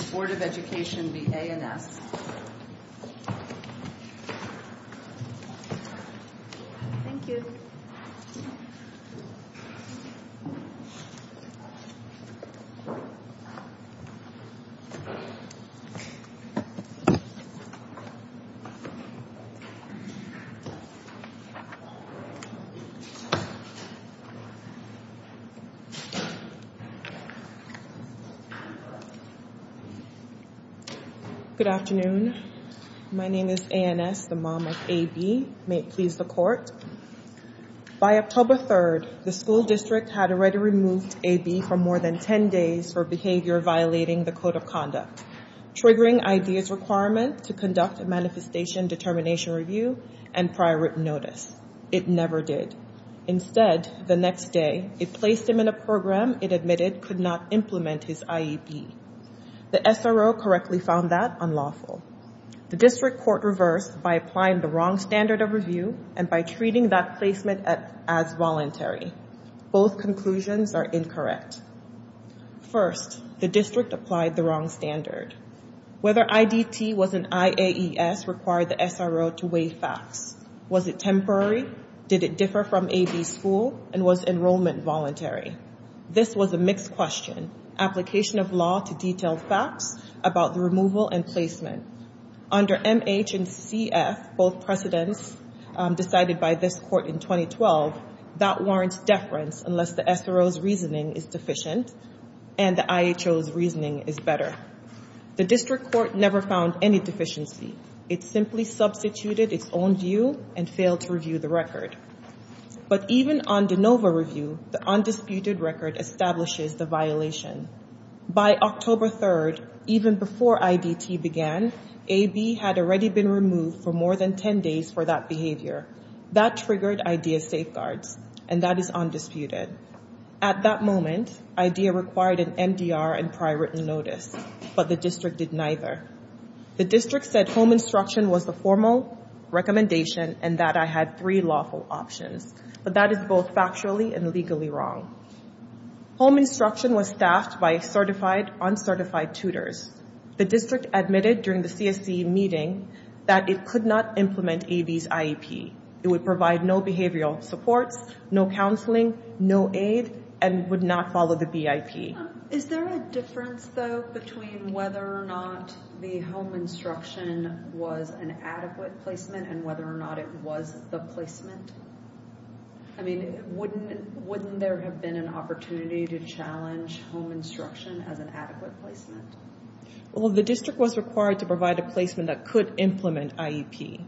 Board of Education v. A&S Good afternoon. My name is A&S, the mom of A.B. May it please the court. By October 3rd, the school district had already removed A.B. from more than 10 days for behavior violating the Code of Conduct, triggering I.D.'s requirement to conduct a manifestation determination review and prior written notice. It never did. Instead, the next day, it placed him in a program it admitted could not implement his I.E.B. The S.R.O. correctly found that unlawful. The district court reversed by applying the wrong standard of review and by treating that placement as voluntary. Both conclusions are incorrect. First, the district applied the wrong standard. Whether I.D.T. was an I.A.E.S. required the S.R.O. to weigh facts. Was it temporary? Did it differ from A.B.'s school? And was enrollment voluntary? This was a mixed question. Application of law to detail facts about the removal and placement. Under M.H. and C.F., both precedents decided by this court in 2012, that warrants deference unless the S.R.O.'s reasoning is deficient and the I.H.O.'s reasoning is better. The district court never found any deficiency. It simply substituted its own view and failed to review the record. But even on de novo review, the undisputed record establishes the violation. By October 3rd, even before I.D.T. began, A.B. had already been removed for more than 10 days for that behavior. That triggered I.D.A. safeguards, and that is undisputed. At that moment, I.D.A. required an M.D.R. and prior written notice, but the district did neither. The district said home instruction was the formal recommendation and that I had three lawful options. But that is both factually and legally wrong. Home instruction was staffed by certified, uncertified tutors. The district admitted during the C.S.C. meeting that it could not implement A.B.'s IEP. It would provide no behavioral supports, no counseling, no aid, and would not follow the B.I.P. Is there a difference, though, between whether or not the home instruction was an adequate placement and whether or not it was the placement? I mean, wouldn't there have been an opportunity to challenge home instruction as an adequate placement? Well, the district was required to provide a placement that could implement IEP,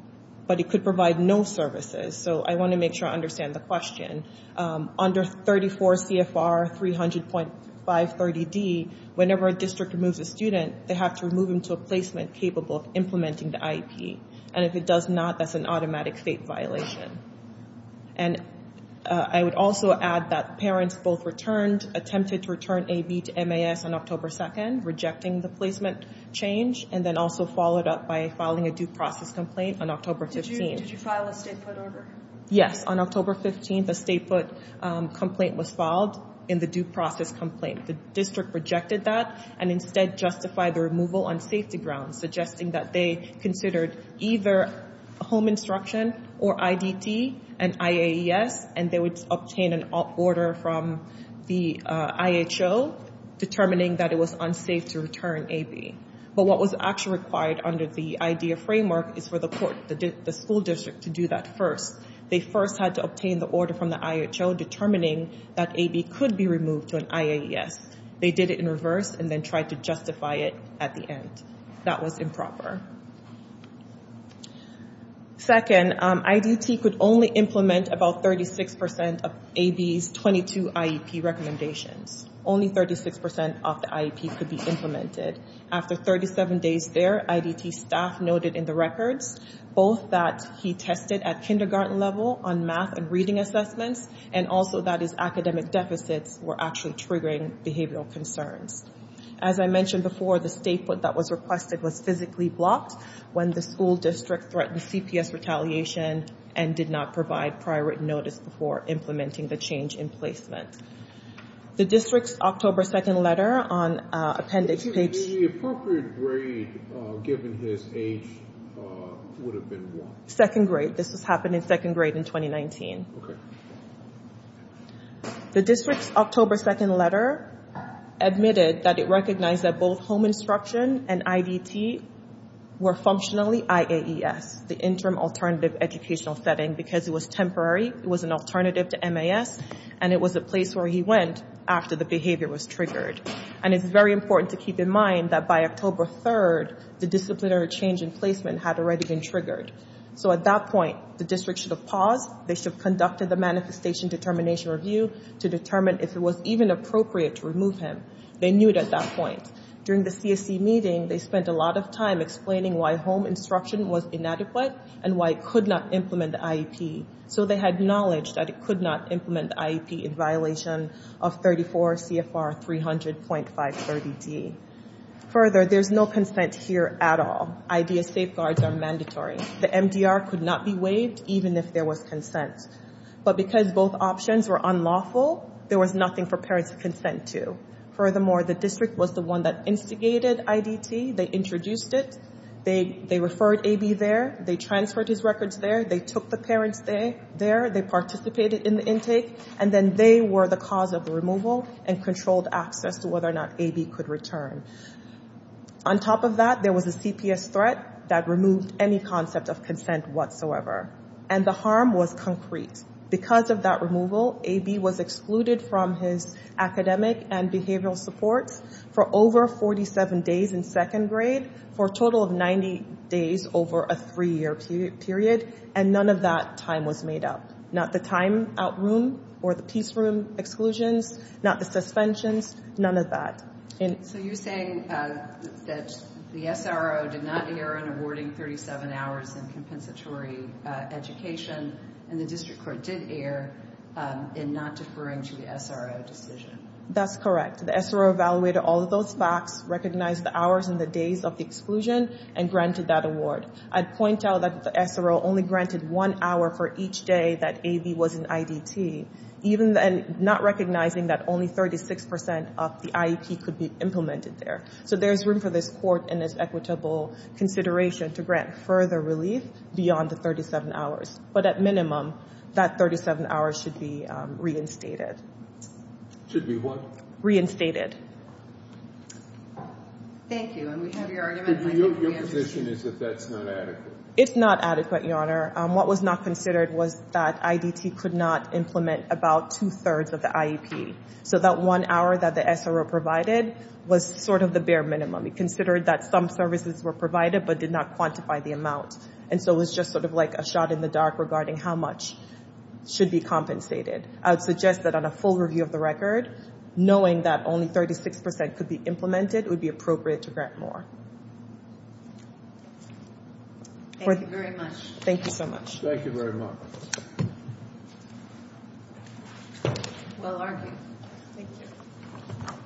but it could provide no services. So I want to make sure I understand the question. Under 34 CFR 300.530D, whenever a district removes a student, they have to remove him to a placement capable of implementing the IEP. And if it does not, that's an automatic fate violation. And I would also add that parents both returned, attempted to return A.B. to M.A.S. on October 2nd, rejecting the placement change, and then also followed up by filing a due process complaint on October 15th. Did you file a state foot order? Yes. On October 15th, a state foot complaint was filed in the due process complaint. The district rejected that and instead justified the removal on safety grounds, suggesting that they considered either home instruction or I.D.T. and I.A.E.S., and they would obtain an order from the I.H.O. determining that it was unsafe to return A.B. But what was actually required under the I.D.A. framework is for the school district to do that first. They first had to obtain the order from the I.H.O. determining that A.B. could be removed to an I.A.E.S. They did it in reverse and then tried to justify it at the end. That was improper. Second, I.D.T. could only implement about 36% of A.B.'s 22 IEP recommendations. Only 36% of the IEPs could be implemented. After 37 days there, I.D.T. staff noted in the records both that he tested at kindergarten level on math and reading assessments and also that his academic deficits were actually triggering behavioral concerns. As I mentioned before, the state foot that was requested was physically blocked when the school district threatened CPS retaliation and did not provide prior written notice before implementing the change in placement. The district's October 2nd letter on appendix page... Excuse me. The appropriate grade given his age would have been what? Second grade. This was happening second grade in 2019. Okay. The district's October 2nd letter admitted that it recognized that both home instruction and I.D.T. were functionally I.A.E.S., the Interim Alternative Educational Setting, because it was temporary. It was an alternative to M.A.S. and it was a place where he went after the behavior was triggered. And it's very important to keep in mind that by October 3rd, the disciplinary change in placement had already been triggered. So at that point, the district should have paused. They should have conducted the manifestation determination review to determine if it was even appropriate to remove him. They knew it at that point. During the CSC meeting, they spent a lot of time explaining why home instruction was inadequate and why it could not implement I.E.P. So they had knowledge that it could not implement I.E.P. in violation of 34 CFR 300.530D. Further, there's no consent here at all. I.D.S. safeguards are mandatory. The M.D.R. could not be waived even if there was consent. But because both options were unlawful, there was nothing for parents to consent to. Furthermore, the district was the one that instigated I.D.T. They introduced it. They referred A.B. there. They transferred his records there. They took the parents there. They participated in the intake. And then they were the cause of the removal and controlled access to whether or not A.B. could return. On top of that, there was a CPS threat that removed any concept of consent whatsoever. And the harm was concrete. Because of that removal, A.B. was excluded from his academic and behavioral supports for over 47 days in second grade for a total of 90 days over a three-year period. And none of that time was made up. Not the time out room or the peace room exclusions, not the suspensions, none of that. So you're saying that the SRO did not err in awarding 37 hours in compensatory education, and the district court did err in not deferring to the SRO decision. That's correct. The SRO evaluated all of those facts, recognized the hours and the days of the exclusion, and granted that award. I'd point out that the SRO only granted one hour for each day that A.B. was in I.D.T., not recognizing that only 36% of the IEP could be implemented there. So there's room for this court and its equitable consideration to grant further relief beyond the 37 hours. But at minimum, that 37 hours should be reinstated. Should be what? Reinstated. Thank you. And we have your argument. Your position is that that's not adequate. It's not adequate, Your Honor. What was not considered was that I.D.T. could not implement about two-thirds of the IEP. So that one hour that the SRO provided was sort of the bare minimum. It considered that some services were provided but did not quantify the amount. And so it was just sort of like a shot in the dark regarding how much should be compensated. I would suggest that on a full review of the record, knowing that only 36% could be implemented would be appropriate to grant more. Thank you very much. Thank you so much. Thank you very much. Well argued. Thank you.